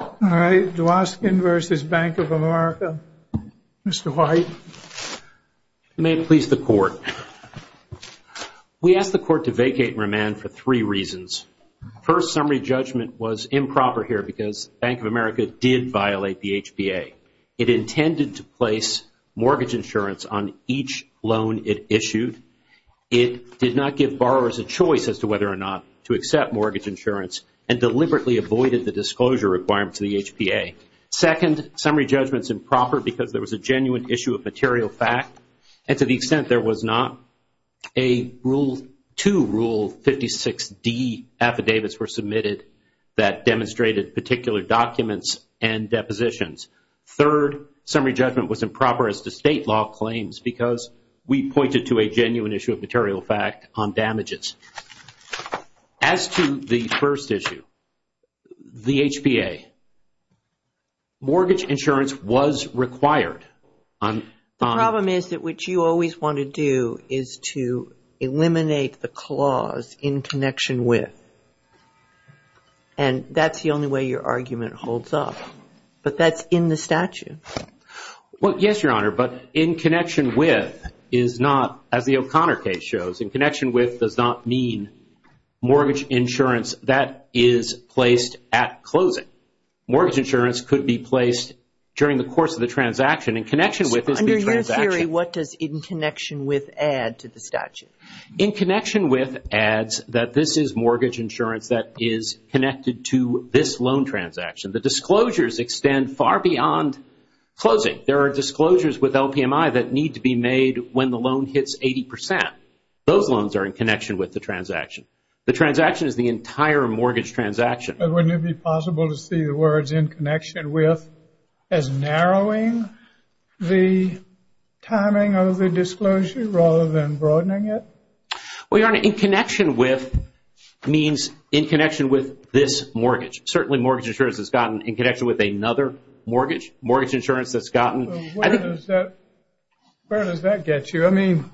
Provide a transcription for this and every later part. Dwoskin v. Bank of America. Mr. White. May it please the Court. We ask the Court to vacate and remand for three reasons. First, summary judgment was improper here because Bank of America did violate the HBA. It intended to place mortgage insurance on each loan it issued. It did not give borrowers a choice as to whether or not to accept mortgage insurance and deliberately avoided the disclosure requirements of the HBA. Second, summary judgment is improper because there was a genuine issue of material fact and to the extent there was not, two Rule 56D affidavits were submitted that demonstrated particular documents and depositions. Third, summary judgment was improper as to state law claims because we pointed to a genuine issue of material fact on damages. As to the first issue, the HBA, mortgage insurance was required. The problem is that what you always want to do is to eliminate the clause, in connection with, and that's the only way your argument holds up. But that's in the statute. Well, yes, Your Honor, but in connection with is not, as the O'Connor case shows, in connection with does not mean mortgage insurance that is placed at closing. Mortgage insurance could be placed during the course of the transaction. In connection with is the transaction. Under your theory, what does in connection with add to the statute? In connection with adds that this is mortgage insurance that is connected to this loan transaction. The disclosures extend far beyond closing. There are disclosures with LPMI that need to be made when the loan hits 80%. Those loans are in connection with the transaction. The transaction is the entire mortgage transaction. But wouldn't it be possible to see the words in connection with as narrowing the timing of the disclosure rather than broadening it? Well, Your Honor, in connection with means in connection with this mortgage. Certainly mortgage insurance has gotten in connection with another mortgage. Mortgage insurance has gotten. Where does that get you? I mean,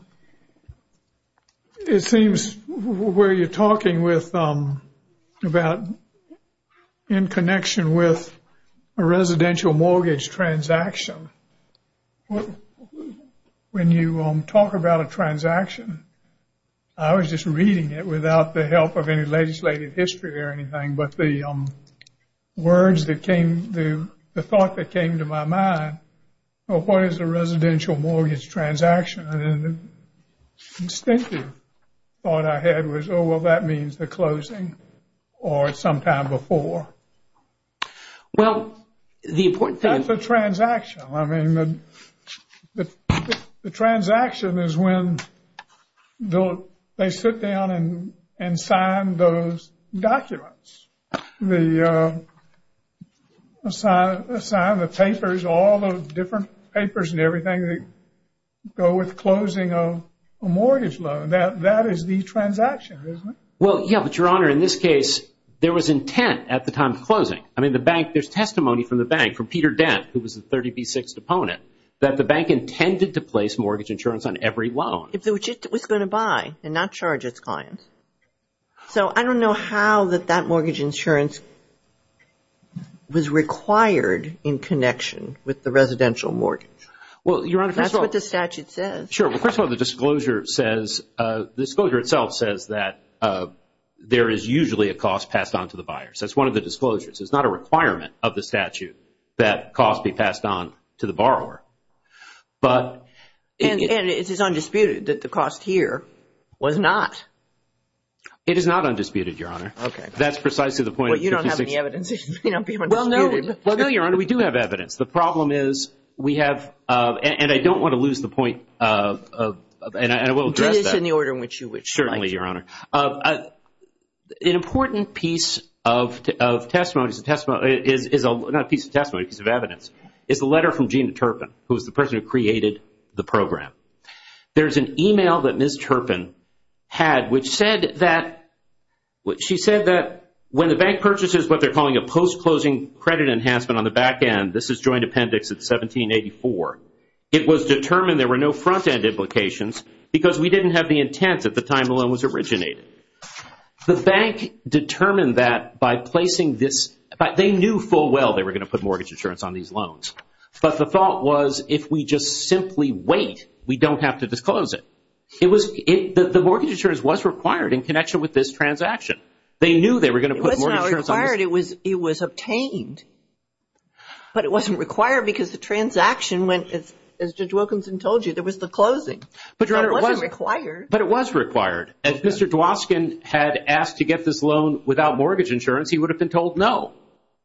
it seems where you're talking about in connection with a residential mortgage transaction. When you talk about a transaction, I was just reading it without the help of any legislative history or anything. But the words that came, the thought that came to my mind, oh, what is a residential mortgage transaction? And the instinctive thought I had was, oh, well, that means the closing or sometime before. Well, the important thing. That's a transaction. I mean, the transaction is when they sit down and sign those documents, sign the papers, all the different papers and everything that go with closing a mortgage loan. That is the transaction, isn't it? Well, yeah, but, Your Honor, in this case, there was intent at the time of closing. I mean, the bank, there's testimony from the bank, from Peter Dent, who was the 30B6 opponent, that the bank intended to place mortgage insurance on every loan. Which it was going to buy and not charge its clients. So I don't know how that that mortgage insurance was required in connection with the residential mortgage. Well, Your Honor, first of all. That's what the statute says. Sure. Well, first of all, the disclosure says, the disclosure itself says that there is usually a cost passed on to the buyer. That's one of the disclosures. It's not a requirement of the statute that cost be passed on to the borrower. And it is undisputed that the cost here was not. It is not undisputed, Your Honor. That's precisely the point. Well, you don't have any evidence. Well, no, Your Honor, we do have evidence. The problem is we have, and I don't want to lose the point, and I will address that. Do this in the order in which you would like. Certainly, Your Honor. An important piece of testimony, not a piece of testimony, a piece of evidence, is the letter from Gina Turpin, who was the person who created the program. There's an email that Ms. Turpin had which said that when the bank purchases what they're calling a post-closing credit enhancement on the back end, this is joint appendix at 1784, it was determined there were no front-end implications because we didn't have the intent at the time the loan was originated. The bank determined that by placing this. They knew full well they were going to put mortgage insurance on these loans. But the thought was if we just simply wait, we don't have to disclose it. The mortgage insurance was required in connection with this transaction. They knew they were going to put mortgage insurance on this. It was not required. It was obtained. But it wasn't required because the transaction, as Judge Wilkinson told you, there was the closing. It wasn't required. But it was required. If Mr. Dwoskin had asked to get this loan without mortgage insurance, he would have been told no.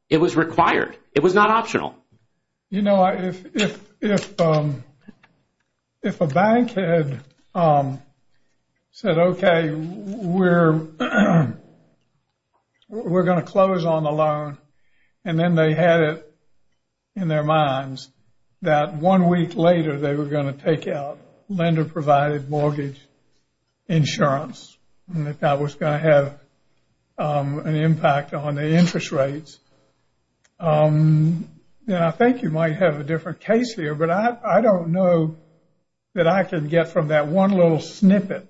It was required. It was not optional. You know, if a bank had said, okay, we're going to close on the loan, and then they had it in their minds that one week later they were going to take out lender-provided mortgage insurance, and that that was going to have an impact on the interest rates, then I think you might have a different case here. But I don't know that I could get from that one little snippet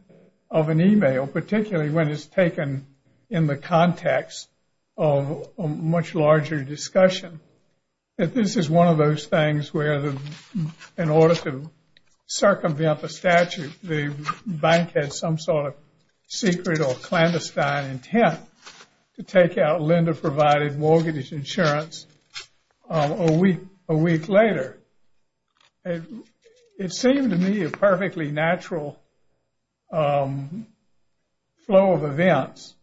of an email, particularly when it's taken in the context of a much larger discussion, that this is one of those things where in order to circumvent the statute, the bank had some sort of secret or clandestine intent to take out lender-provided mortgage insurance a week later. It seemed to me a perfectly natural flow of events,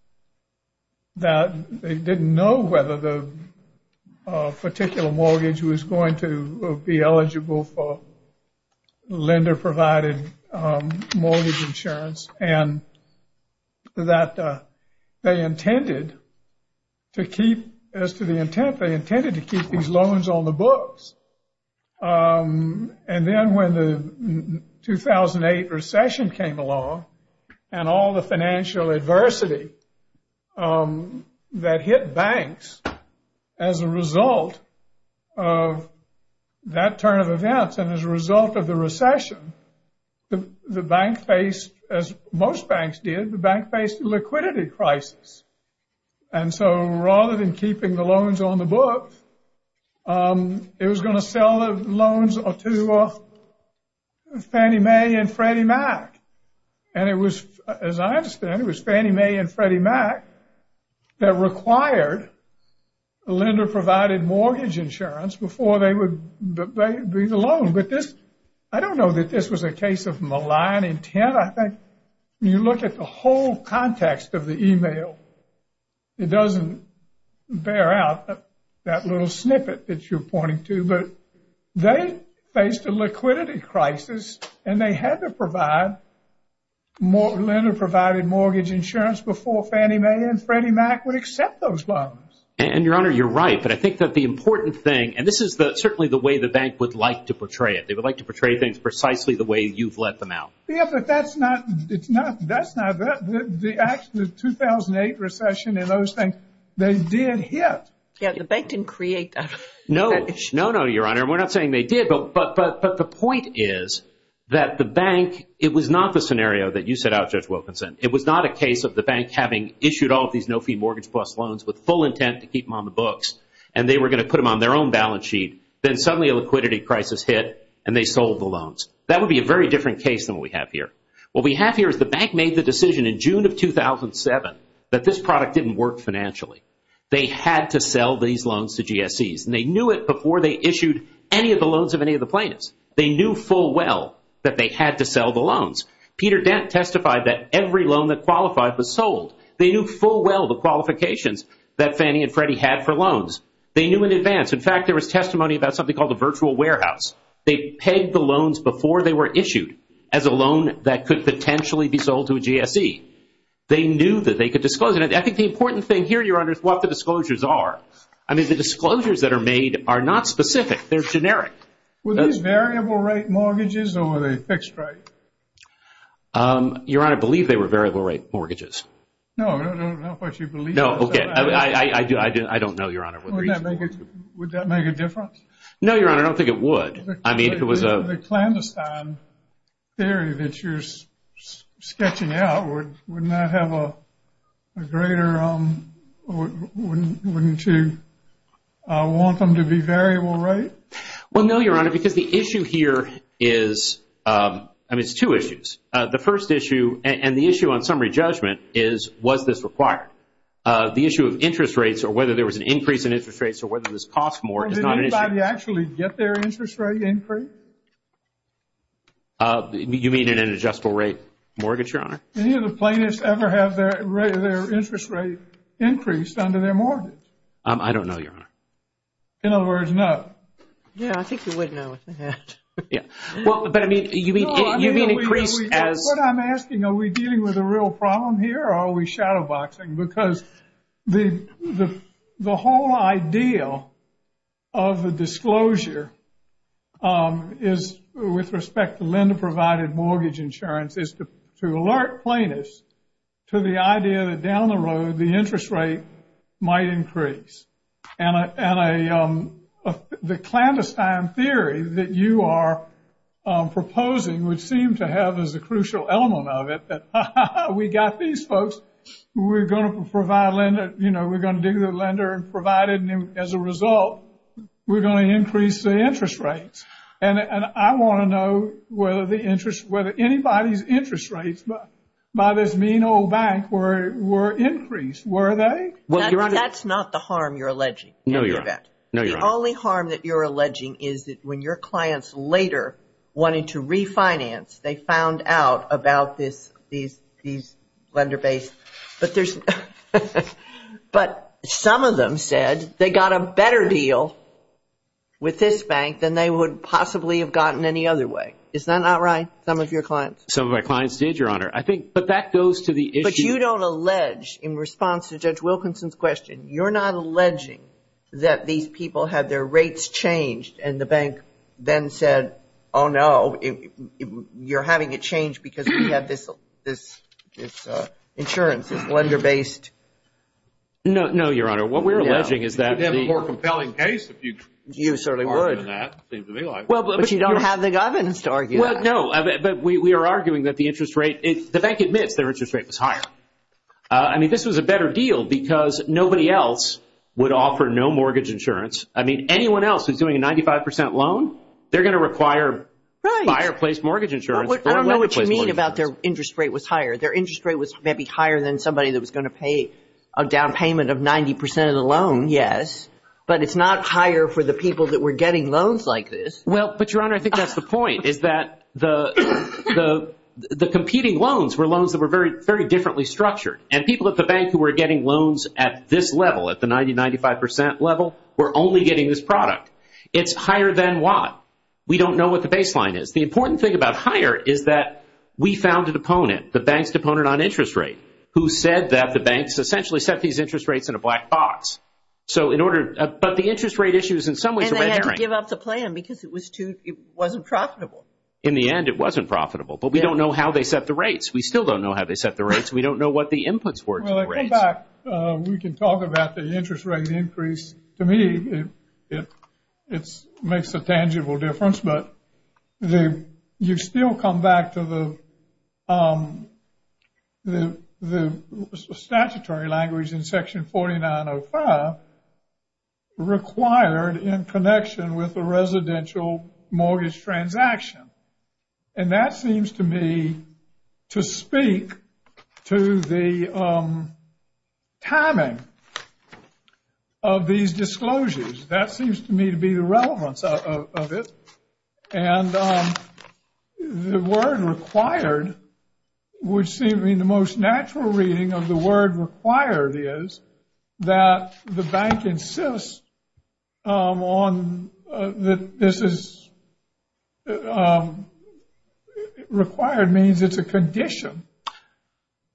that they didn't know whether the particular mortgage was going to be eligible for lender-provided mortgage insurance, and that they intended to keep, as to the intent, they intended to keep these loans on the books. And then when the 2008 recession came along, and all the financial adversity that hit banks as a result of that turn of events, and as a result of the recession, the bank faced, as most banks did, the bank faced a liquidity crisis. And so rather than keeping the loans on the books, it was going to sell the loans to Fannie Mae and Freddie Mac. And it was, as I understand, it was Fannie Mae and Freddie Mac that required lender-provided mortgage insurance before they would be the loan. I don't know that this was a case of malign intent. I think when you look at the whole context of the email, it doesn't bear out that little snippet that you're pointing to. But they faced a liquidity crisis, and they had to provide lender-provided mortgage insurance before Fannie Mae and Freddie Mac would accept those loans. And, Your Honor, you're right. But I think that the important thing – and this is certainly the way the bank would like to portray it. They would like to portray things precisely the way you've let them out. Yeah, but that's not – the 2008 recession and those things, they did hit. Yeah, the bank didn't create that. No, no, no, Your Honor. We're not saying they did, but the point is that the bank – it was not the scenario that you set out, Judge Wilkinson. It was not a case of the bank having issued all of these no-fee mortgage-plus loans with full intent to keep them on the books, and they were going to put them on their own balance sheet. Then suddenly a liquidity crisis hit, and they sold the loans. That would be a very different case than what we have here. What we have here is the bank made the decision in June of 2007 that this product didn't work financially. They had to sell these loans to GSEs, and they knew it before they issued any of the loans of any of the plaintiffs. They knew full well that they had to sell the loans. Peter Dent testified that every loan that qualified was sold. They knew full well the qualifications that Fannie and Freddie had for loans. They knew in advance. In fact, there was testimony about something called a virtual warehouse. They pegged the loans before they were issued as a loan that could potentially be sold to a GSE. They knew that they could disclose it. I think the important thing here, Your Honor, is what the disclosures are. I mean, the disclosures that are made are not specific. They're generic. Were these variable-rate mortgages, or were they fixed-rate? Your Honor, I believe they were variable-rate mortgages. No, not what you believe. No, okay. I don't know, Your Honor, what the reason was. Would that make a difference? No, Your Honor, I don't think it would. I mean, it was a— The clandestine theory that you're sketching out, wouldn't that have a greater—wouldn't you want them to be variable-rate? Well, no, Your Honor, because the issue here is—I mean, it's two issues. The first issue, and the issue on summary judgment, is was this required? The issue of interest rates or whether there was an increase in interest rates or whether this cost more is not an issue. Well, did anybody actually get their interest rate increased? You mean in an adjustable-rate mortgage, Your Honor? Any of the plaintiffs ever have their interest rate increased under their mortgage? I don't know, Your Honor. In other words, no. Yeah, I think you would know. Yeah. Well, but, I mean, you mean increased as— No, I mean, what I'm asking, are we dealing with a real problem here or are we shadowboxing? Because the whole idea of the disclosure is, with respect to lender-provided mortgage insurance, is to alert plaintiffs to the idea that down the road the interest rate might increase. And the clandestine theory that you are proposing would seem to have as a crucial element of it that, ha, ha, ha, we got these folks, we're going to provide a lender—you know, we're going to do the lender and provide it. And as a result, we're going to increase the interest rates. And I want to know whether anybody's interest rates by this mean old bank were increased. Were they? That's not the harm you're alleging. No, Your Honor. The only harm that you're alleging is that when your clients later wanted to refinance, they found out about these lender-based— But some of them said they got a better deal with this bank than they would possibly have gotten any other way. Is that not right, some of your clients? Some of my clients did, Your Honor. But that goes to the issue— But you don't allege, in response to Judge Wilkinson's question, you're not alleging that these people had their rates changed and the bank then said, Oh, no, you're having it changed because we have this insurance, this lender-based— No, Your Honor. What we're alleging is that the— You could have a more compelling case if you argue that. You certainly would. But you don't have the governance to argue that. Well, no, but we are arguing that the interest rate—the bank admits their interest rate was higher. I mean, this was a better deal because nobody else would offer no mortgage insurance. I mean, anyone else who's doing a 95 percent loan, they're going to require fireplace mortgage insurance. I don't know what you mean about their interest rate was higher. Their interest rate was maybe higher than somebody that was going to pay a down payment of 90 percent of the loan, yes. But it's not higher for the people that were getting loans like this. Well, but, Your Honor, I think that's the point, is that the competing loans were loans that were very differently structured. And people at the bank who were getting loans at this level, at the 90-95 percent level, were only getting this product. It's higher than what? We don't know what the baseline is. The important thing about higher is that we found an opponent, the bank's opponent on interest rate, who said that the banks essentially set these interest rates in a black box. So in order—but the interest rate issue is in some ways— And they had to give up the plan because it was too—it wasn't profitable. In the end, it wasn't profitable. But we don't know how they set the rates. We still don't know how they set the rates. We don't know what the inputs were to the rates. Well, I come back. We can talk about the interest rate increase. To me, it makes a tangible difference. But you still come back to the statutory language in Section 4905 required in connection with a residential mortgage transaction. And that seems to me to speak to the timing of these disclosures. That seems to me to be the relevance of it. And the word required, which seems to me the most natural reading of the word required, is that the bank insists on that this is—required means it's a condition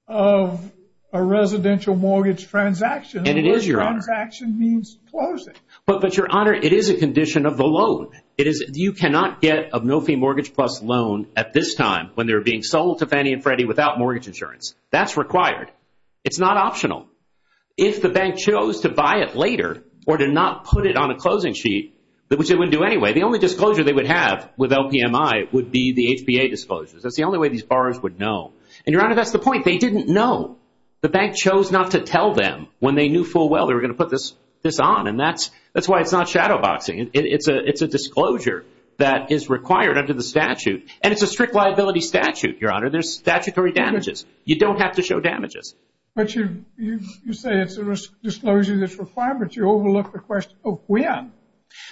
of a residential mortgage transaction. And the word transaction means closing. But, Your Honor, it is a condition of the loan. It is—you cannot get a no-fee mortgage plus loan at this time when they're being sold to Fannie and Freddie without mortgage insurance. That's required. It's not optional. If the bank chose to buy it later or to not put it on a closing sheet, which they wouldn't do anyway, the only disclosure they would have with LPMI would be the HPA disclosures. That's the only way these borrowers would know. And, Your Honor, that's the point. They didn't know. The bank chose not to tell them when they knew full well they were going to put this on. And that's why it's not shadowboxing. It's a disclosure that is required under the statute. And it's a strict liability statute, Your Honor. There's statutory damages. You don't have to show damages. But you say it's a disclosure that's required, but you overlook the question of when.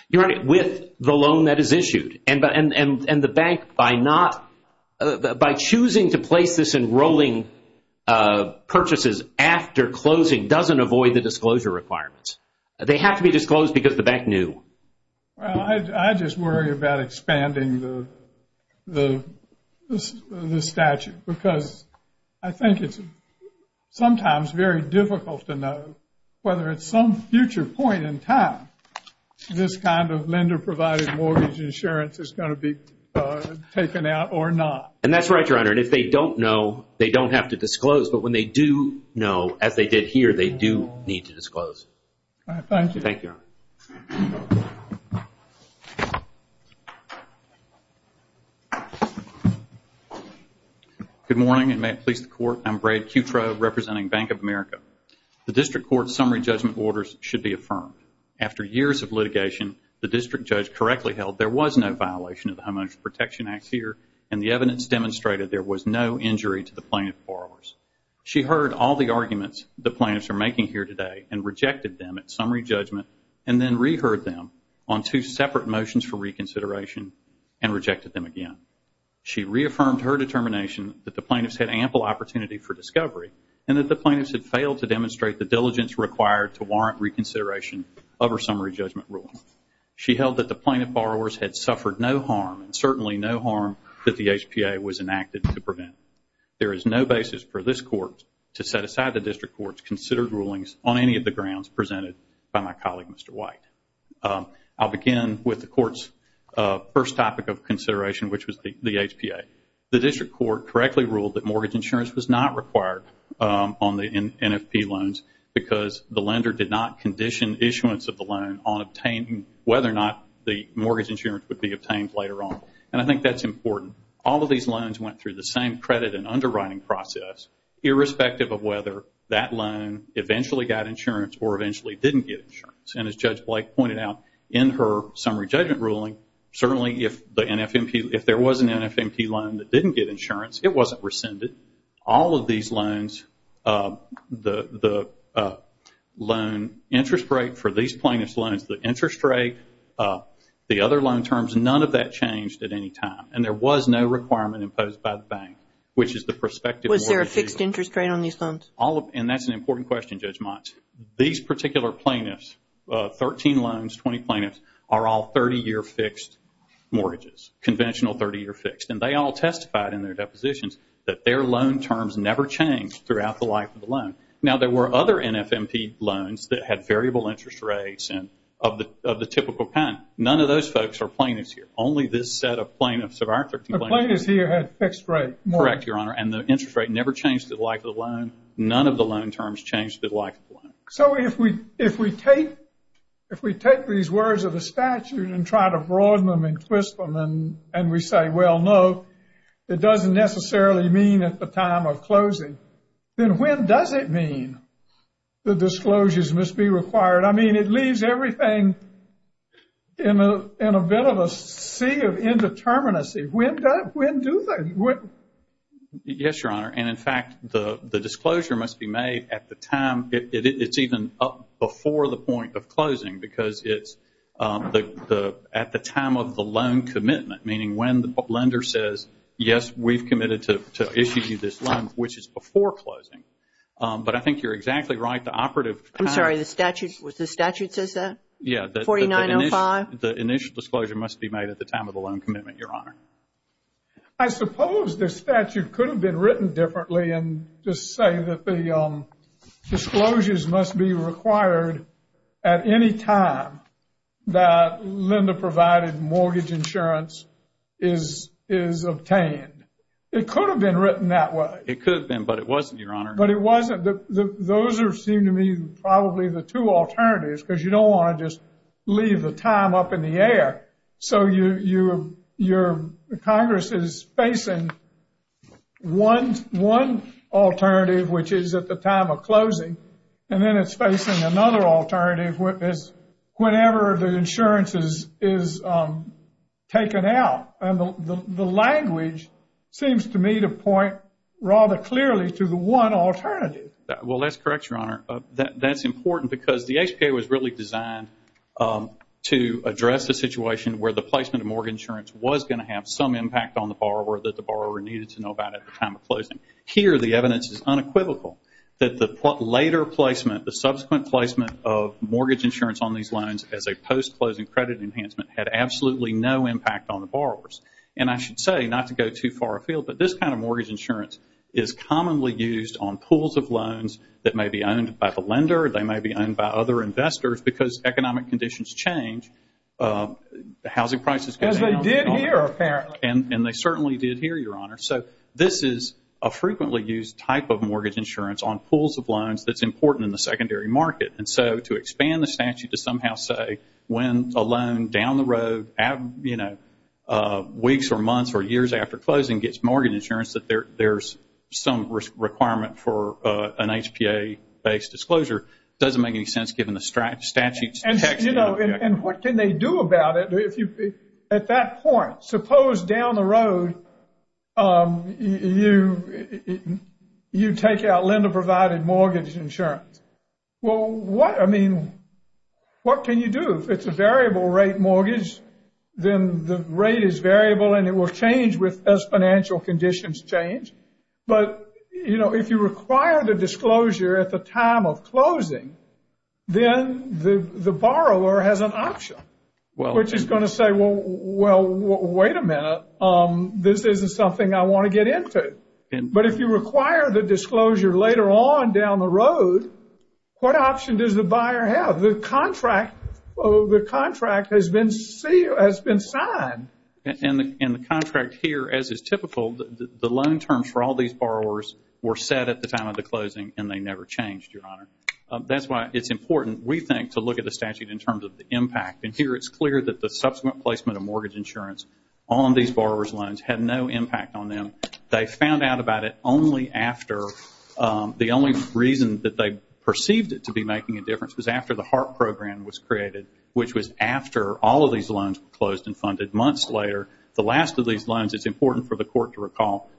Your Honor, with the loan that is issued. And the bank, by choosing to place this in rolling purchases after closing, doesn't avoid the disclosure requirements. They have to be disclosed because the bank knew. Well, I just worry about expanding the statute because I think it's sometimes very difficult to know whether at some future point in time this kind of lender provided mortgage insurance is going to be taken out or not. And that's right, Your Honor. And if they don't know, they don't have to disclose. But when they do know, as they did here, they do need to disclose. All right, thank you. Thank you, Your Honor. Good morning, and may it please the Court. I'm Brad Cutrow, representing Bank of America. The district court's summary judgment orders should be affirmed. After years of litigation, the district judge correctly held there was no violation of the Homeowner's Protection Act here, and the evidence demonstrated there was no injury to the plaintiff borrowers. She heard all the arguments the plaintiffs are making here today and rejected them at summary judgment and then reheard them on two separate motions for reconsideration and rejected them again. She reaffirmed her determination that the plaintiffs had ample opportunity for discovery and that the plaintiffs had failed to demonstrate the diligence required to warrant reconsideration of her summary judgment ruling. She held that the plaintiff borrowers had suffered no harm and certainly no harm that the HPA was enacted to prevent. There is no basis for this Court to set aside the district court's considered rulings on any of the grounds presented by my colleague, Mr. White. I'll begin with the court's first topic of consideration, which was the HPA. The district court correctly ruled that mortgage insurance was not required on the NFP loans because the lender did not condition issuance of the loan on obtaining whether or not the mortgage insurance would be obtained later on. And I think that's important. All of these loans went through the same credit and underwriting process, irrespective of whether that loan eventually got insurance or eventually didn't get insurance. And as Judge Blake pointed out, in her summary judgment ruling, certainly if there was an NFMP loan that didn't get insurance, it wasn't rescinded. All of these loans, the loan interest rate for these plaintiff's loans, the interest rate, the other loan terms, none of that changed at any time. And there was no requirement imposed by the bank, which is the prospective mortgage. Was there a fixed interest rate on these loans? And that's an important question, Judge Mott. These particular plaintiffs, 13 loans, 20 plaintiffs, are all 30-year fixed mortgages, conventional 30-year fixed. And they all testified in their depositions that their loan terms never changed throughout the life of the loan. Now, there were other NFMP loans that had variable interest rates of the typical kind. None of those folks are plaintiffs here. Only this set of plaintiffs of our 13 plaintiffs. The plaintiffs here had fixed rates. Correct, Your Honor. And the interest rate never changed the life of the loan. None of the loan terms changed the life of the loan. So if we take these words of the statute and try to broaden them and twist them and we say, well, no, it doesn't necessarily mean at the time of closing, then when does it mean the disclosures must be required? I mean, it leaves everything in a bit of a sea of indeterminacy. When do they? Yes, Your Honor. And, in fact, the disclosure must be made at the time. It's even up before the point of closing because it's at the time of the loan commitment, meaning when the lender says, yes, we've committed to issue you this loan, which is before closing. But I think you're exactly right. The operative powers. I'm sorry. The statute says that? Yeah. 4905? The initial disclosure must be made at the time of the loan commitment, Your Honor. I suppose the statute could have been written differently and just say that the disclosures must be required at any time that lender-provided mortgage insurance is obtained. It could have been written that way. It could have been, but it wasn't, Your Honor. But it wasn't. Those seem to me probably the two alternatives because you don't want to just leave the time up in the air. So your Congress is facing one alternative, which is at the time of closing, and then it's facing another alternative whenever the insurance is taken out. And the language seems to me to point rather clearly to the one alternative. Well, that's correct, Your Honor. That's important because the HPA was really designed to address the situation where the placement of mortgage insurance was going to have some impact on the borrower that the borrower needed to know about at the time of closing. Here, the evidence is unequivocal that the later placement, the subsequent placement of mortgage insurance on these loans as a post-closing credit enhancement had absolutely no impact on the borrowers. And I should say, not to go too far afield, but this kind of mortgage insurance is commonly used on pools of loans that may be owned by the lender or they may be owned by other investors because economic conditions change, the housing prices go down. Because they did here, apparently. And they certainly did here, Your Honor. So this is a frequently used type of mortgage insurance on pools of loans that's important in the secondary market. And so to expand the statute to somehow say when a loan down the road, you know, weeks or months or years after closing gets mortgage insurance, that there's some requirement for an HPA-based disclosure, doesn't make any sense given the statute. And, you know, what can they do about it? At that point, suppose down the road you take out lender-provided mortgage insurance. Well, what, I mean, what can you do? If it's a variable-rate mortgage, then the rate is variable and it will change as financial conditions change. But, you know, if you require the disclosure at the time of closing, then the borrower has an option, which is going to say, well, wait a minute, this isn't something I want to get into. But if you require the disclosure later on down the road, what option does the buyer have? The contract has been signed. And the contract here, as is typical, the loan terms for all these borrowers were set at the time of the closing and they never changed, Your Honor. That's why it's important, we think, to look at the statute in terms of the impact. And here it's clear that the subsequent placement of mortgage insurance on these borrowers' loans had no impact on them. They found out about it only after the only reason that they perceived it to be making a difference was after the HARP program was created, which was after all of these loans were closed and funded. Months later, the last of these loans, it's important for the court to recall,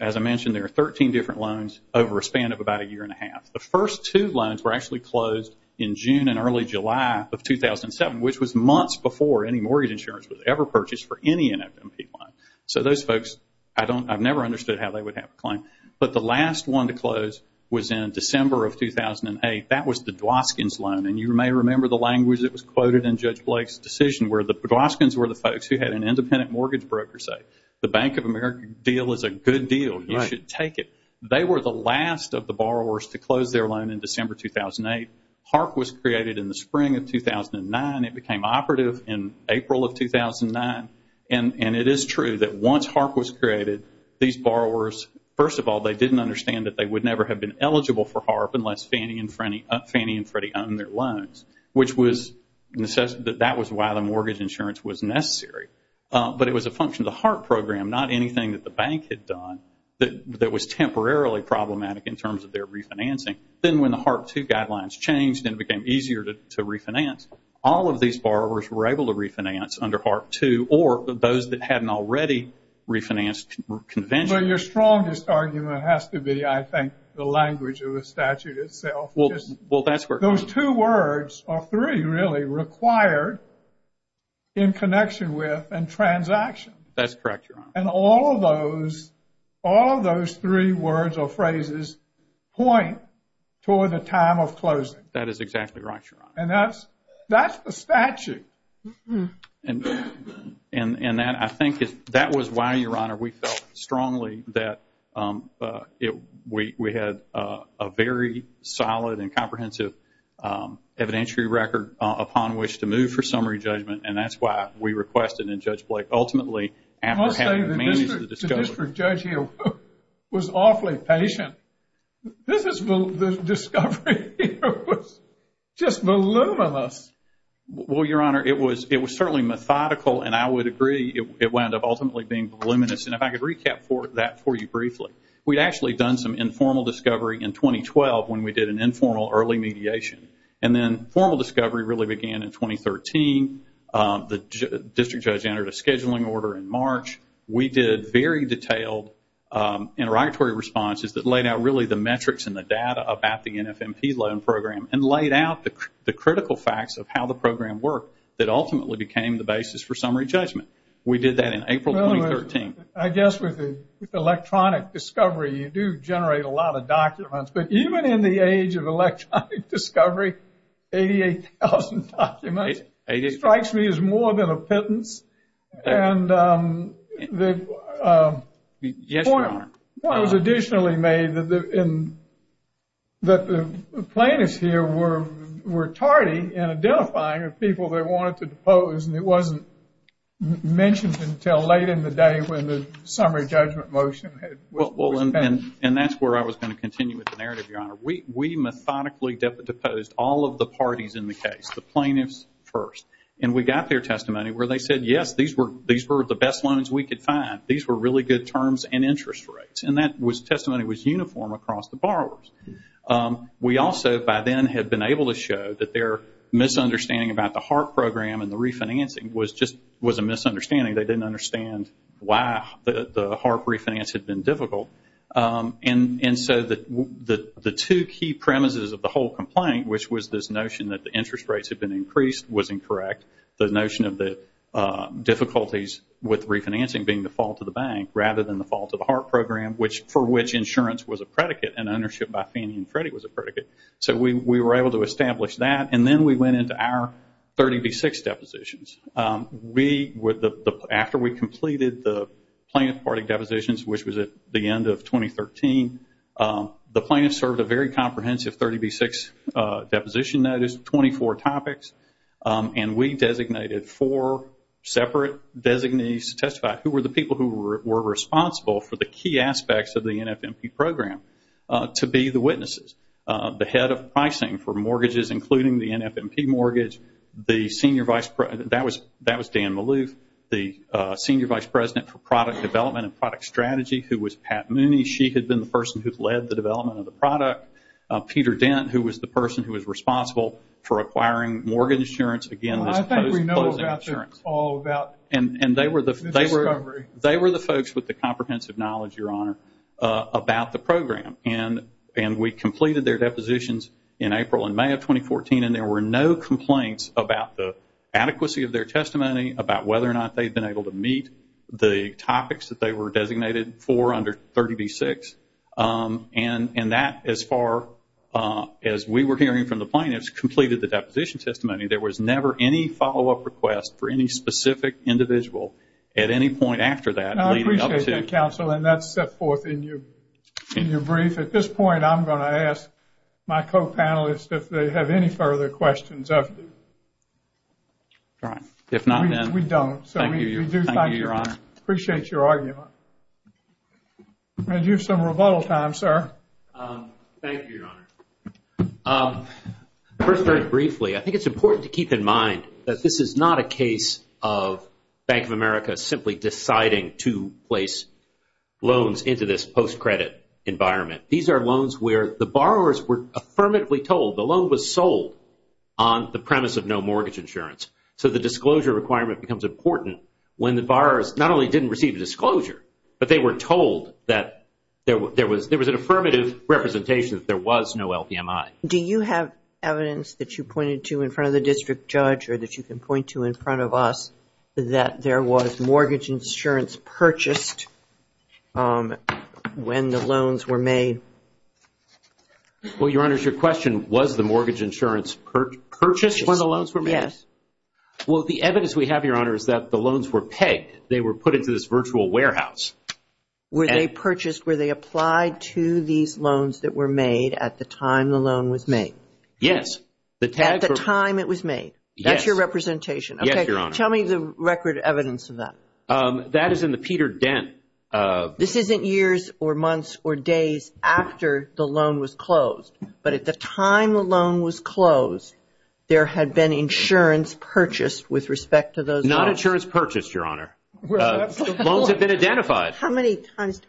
as I mentioned, there are 13 different loans over a span of about a year and a half. The first two loans were actually closed in June and early July of 2007, which was months before any mortgage insurance was ever purchased for any NFMP loan. So those folks, I've never understood how they would have a claim. But the last one to close was in December of 2008. That was the Dwoskins loan. And you may remember the language that was quoted in Judge Blake's decision where the Dwoskins were the folks who had an independent mortgage broker say, the Bank of America deal is a good deal. You should take it. They were the last of the borrowers to close their loan in December 2008. HARP was created in the spring of 2009. It became operative in April of 2009. And it is true that once HARP was created, these borrowers, first of all, they didn't understand that they would never have been eligible for HARP unless Fannie and Freddie owned their loans, which was why the mortgage insurance was necessary. But it was a function of the HARP program, not anything that the bank had done that was temporarily problematic in terms of their refinancing. Then when the HARP II guidelines changed and it became easier to refinance, all of these borrowers were able to refinance under HARP II or those that hadn't already refinanced conventionally. So your strongest argument has to be, I think, the language of the statute itself. Well, that's where... Those two words, or three really, required in connection with and transaction. That's correct, Your Honor. And all of those three words or phrases point toward the time of closing. That is exactly right, Your Honor. And that's the statute. And that, I think, that was why, Your Honor, we felt strongly that we had a very solid and comprehensive evidentiary record upon which to move for summary judgment, and that's why we requested, and Judge Blake, ultimately, after having managed the discovery... I'll say the district judge here was awfully patient. This discovery here was just voluminous. Well, Your Honor, it was certainly methodical, and I would agree it wound up ultimately being voluminous. And if I could recap that for you briefly. We'd actually done some informal discovery in 2012 when we did an informal early mediation. And then formal discovery really began in 2013. The district judge entered a scheduling order in March. We did very detailed interrogatory responses that laid out really the metrics and the data about the NFMP loan program and laid out the critical facts of how the program worked that ultimately became the basis for summary judgment. We did that in April 2013. I guess with electronic discovery, you do generate a lot of documents. But even in the age of electronic discovery, 88,000 documents strikes me as more than a pittance. And the point was additionally made that the plaintiffs here were tardy in identifying the people they wanted to depose, and it wasn't mentioned until late in the day when the summary judgment motion was passed. And that's where I was going to continue with the narrative, Your Honor. We methodically deposed all of the parties in the case, the plaintiffs first. And we got their testimony where they said, yes, these were the best loans we could find. These were really good terms and interest rates. And that testimony was uniform across the borrowers. We also by then had been able to show that their misunderstanding about the HARP program and the refinancing was just a misunderstanding. They didn't understand why the HARP refinance had been difficult. And so the two key premises of the whole complaint, which was this notion that the interest rates had been increased, was incorrect. The notion of the difficulties with refinancing being the fault of the bank rather than the fault of the HARP program, for which insurance was a predicate and ownership by Fannie and Freddie was a predicate. So we were able to establish that, and then we went into our 30B6 depositions. After we completed the plaintiff party depositions, which was at the end of 2013, the plaintiffs served a very comprehensive 30B6 deposition notice, 24 topics, and we designated four separate designees to testify. Who were the people who were responsible for the key aspects of the NFMP program? To be the witnesses. The head of pricing for mortgages, including the NFMP mortgage. That was Dan Maloof. The senior vice president for product development and product strategy, who was Pat Mooney. She had been the person who had led the development of the product. Peter Dent, who was the person who was responsible for acquiring mortgage insurance. Again, this closing insurance. And they were the folks with the comprehensive knowledge, Your Honor, about the program. And we completed their depositions in April and May of 2014, and there were no complaints about the adequacy of their testimony, about whether or not they had been able to meet the topics that they were designated for under 30B6. And that, as far as we were hearing from the plaintiffs, completed the deposition testimony. There was never any follow-up request for any specific individual at any point after that. I appreciate that, counsel, and that's set forth in your brief. At this point, I'm going to ask my co-panelists if they have any further questions. If not, then we don't. Thank you, Your Honor. I appreciate your argument. You have some rebuttal time, sir. Thank you, Your Honor. First, very briefly, I think it's important to keep in mind that this is not a case of Bank of America simply deciding to place loans into this post-credit environment. These are loans where the borrowers were affirmatively told the loan was sold on the premise of no mortgage insurance. So the disclosure requirement becomes important when the borrowers not only didn't receive a disclosure, but they were told that there was an affirmative representation that there was no LPMI. Do you have evidence that you pointed to in front of the district judge or that you can point to in front of us that there was mortgage insurance purchased when the loans were made? Well, Your Honor, your question, was the mortgage insurance purchased when the loans were made? Yes. Well, the evidence we have, Your Honor, is that the loans were pegged. They were put into this virtual warehouse. Were they purchased? Were they applied to these loans that were made at the time the loan was made? Yes. At the time it was made? Yes. That's your representation? Yes, Your Honor. Okay. Tell me the record evidence of that. That is in the Peter Dent. This isn't years or months or days after the loan was closed, but at the time the loan was closed, there had been insurance purchased with respect to those loans? It was not insurance purchased, Your Honor. Loans had been identified. How many times?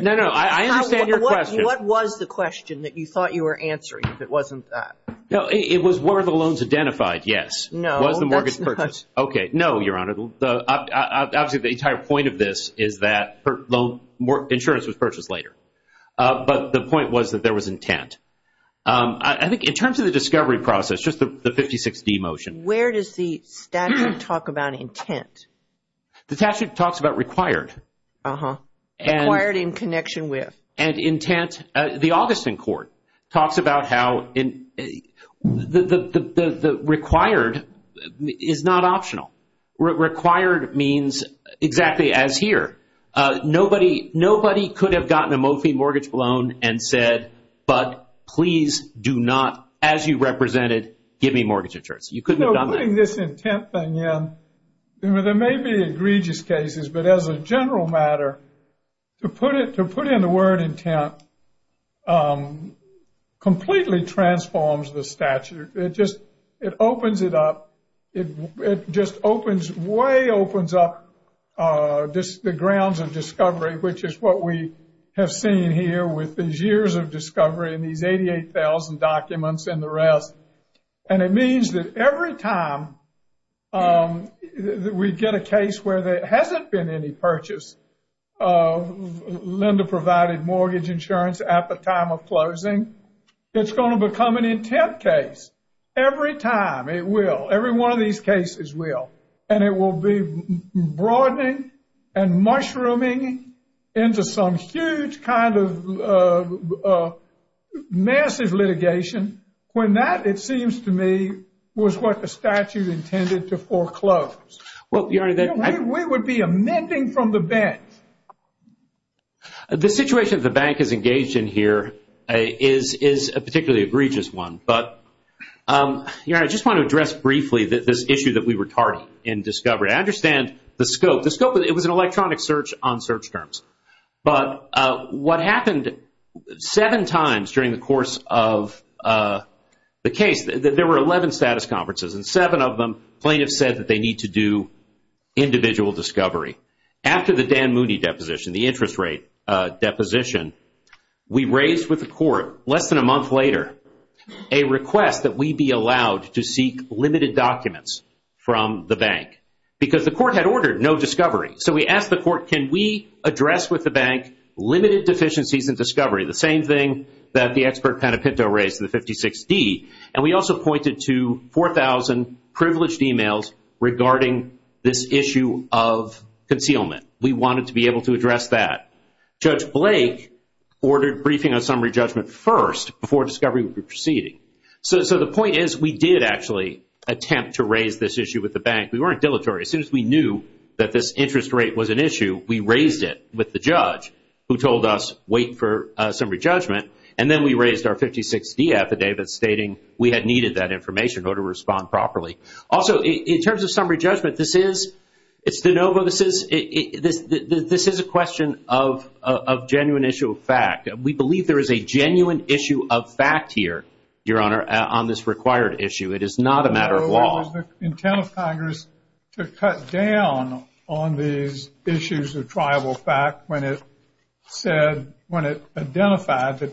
No, no. I understand your question. What was the question that you thought you were answering if it wasn't that? It was were the loans identified? Yes. No. Was the mortgage purchased? Okay. No, Your Honor. Obviously the entire point of this is that insurance was purchased later. But the point was that there was intent. I think in terms of the discovery process, just the 56D motion. Where does the statute talk about intent? The statute talks about required. Required in connection with? And intent. The Augustine Court talks about how the required is not optional. Required means exactly as here. Nobody could have gotten a Mophie mortgage loan and said, but please do not, as you represented, give me mortgage insurance. You couldn't have done that. Putting this intent thing in, there may be egregious cases, but as a general matter, to put in the word intent completely transforms the statute. It just opens it up. It just way opens up the grounds of discovery, which is what we have seen here with these years of discovery and these 88,000 documents and the rest. And it means that every time we get a case where there hasn't been any purchase, Linda provided mortgage insurance at the time of closing, it's going to become an intent case. Every time. It will. Every one of these cases will. And it will be broadening and mushrooming into some huge kind of massive litigation when that, it seems to me, was what the statute intended to foreclose. We would be amending from the bench. The situation the bank is engaged in here is a particularly egregious one. Your Honor, I just want to address briefly this issue that we were tardy in discovery. I understand the scope. The scope, it was an electronic search on search terms. But what happened seven times during the course of the case, there were 11 status conferences, and seven of them, plaintiffs said that they need to do individual discovery. After the Dan Mooney deposition, the interest rate deposition, we raised with the court, less than a month later, a request that we be allowed to seek limited documents from the bank. Because the court had ordered no discovery. So we asked the court, can we address with the bank limited deficiencies in discovery? The same thing that the expert Panepinto raised in the 56D. And we also pointed to 4,000 privileged emails regarding this issue of concealment. We wanted to be able to address that. Judge Blake ordered briefing on summary judgment first before discovery would be proceeding. So the point is we did actually attempt to raise this issue with the bank. We weren't dilatory. As soon as we knew that this interest rate was an issue, we raised it with the judge who told us wait for summary judgment. And then we raised our 56D affidavit stating we had needed that information in order to respond properly. Also, in terms of summary judgment, this is a question of genuine issue of fact. We believe there is a genuine issue of fact here, Your Honor, on this required issue. It is not a matter of law. The intent of Congress to cut down on these issues of tribal fact when it said, when it identified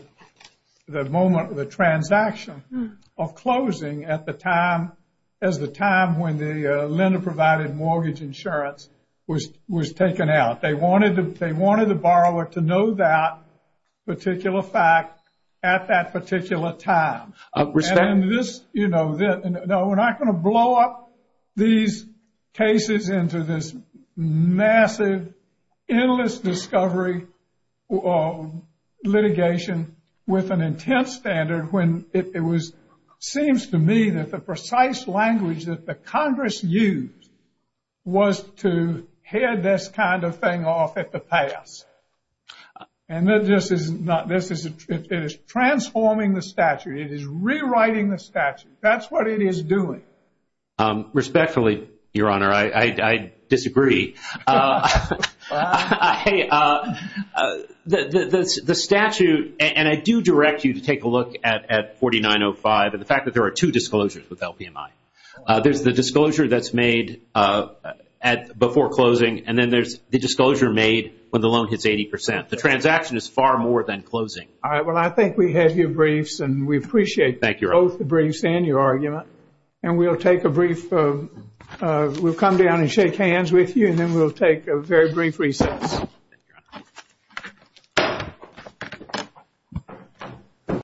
the moment of the transaction of closing at the time, as the time when the lender provided mortgage insurance was taken out. They wanted the borrower to know that particular fact at that particular time. And this, you know, we're not going to blow up these cases into this massive endless discovery litigation with an intense standard when it seems to me that the precise language that the Congress used was to head this kind of thing off at the pass. And this is transforming the statute. It is rewriting the statute. That's what it is doing. Respectfully, Your Honor, I disagree. The statute, and I do direct you to take a look at 4905, and the fact that there are two disclosures with LPMI. There's the disclosure that's made before closing, and then there's the disclosure made when the loan hits 80%. The transaction is far more than closing. All right. Well, I think we have your briefs, and we appreciate both the briefs and your argument. And we'll take a brief, we'll come down and shake hands with you, and then we'll take a very brief recess.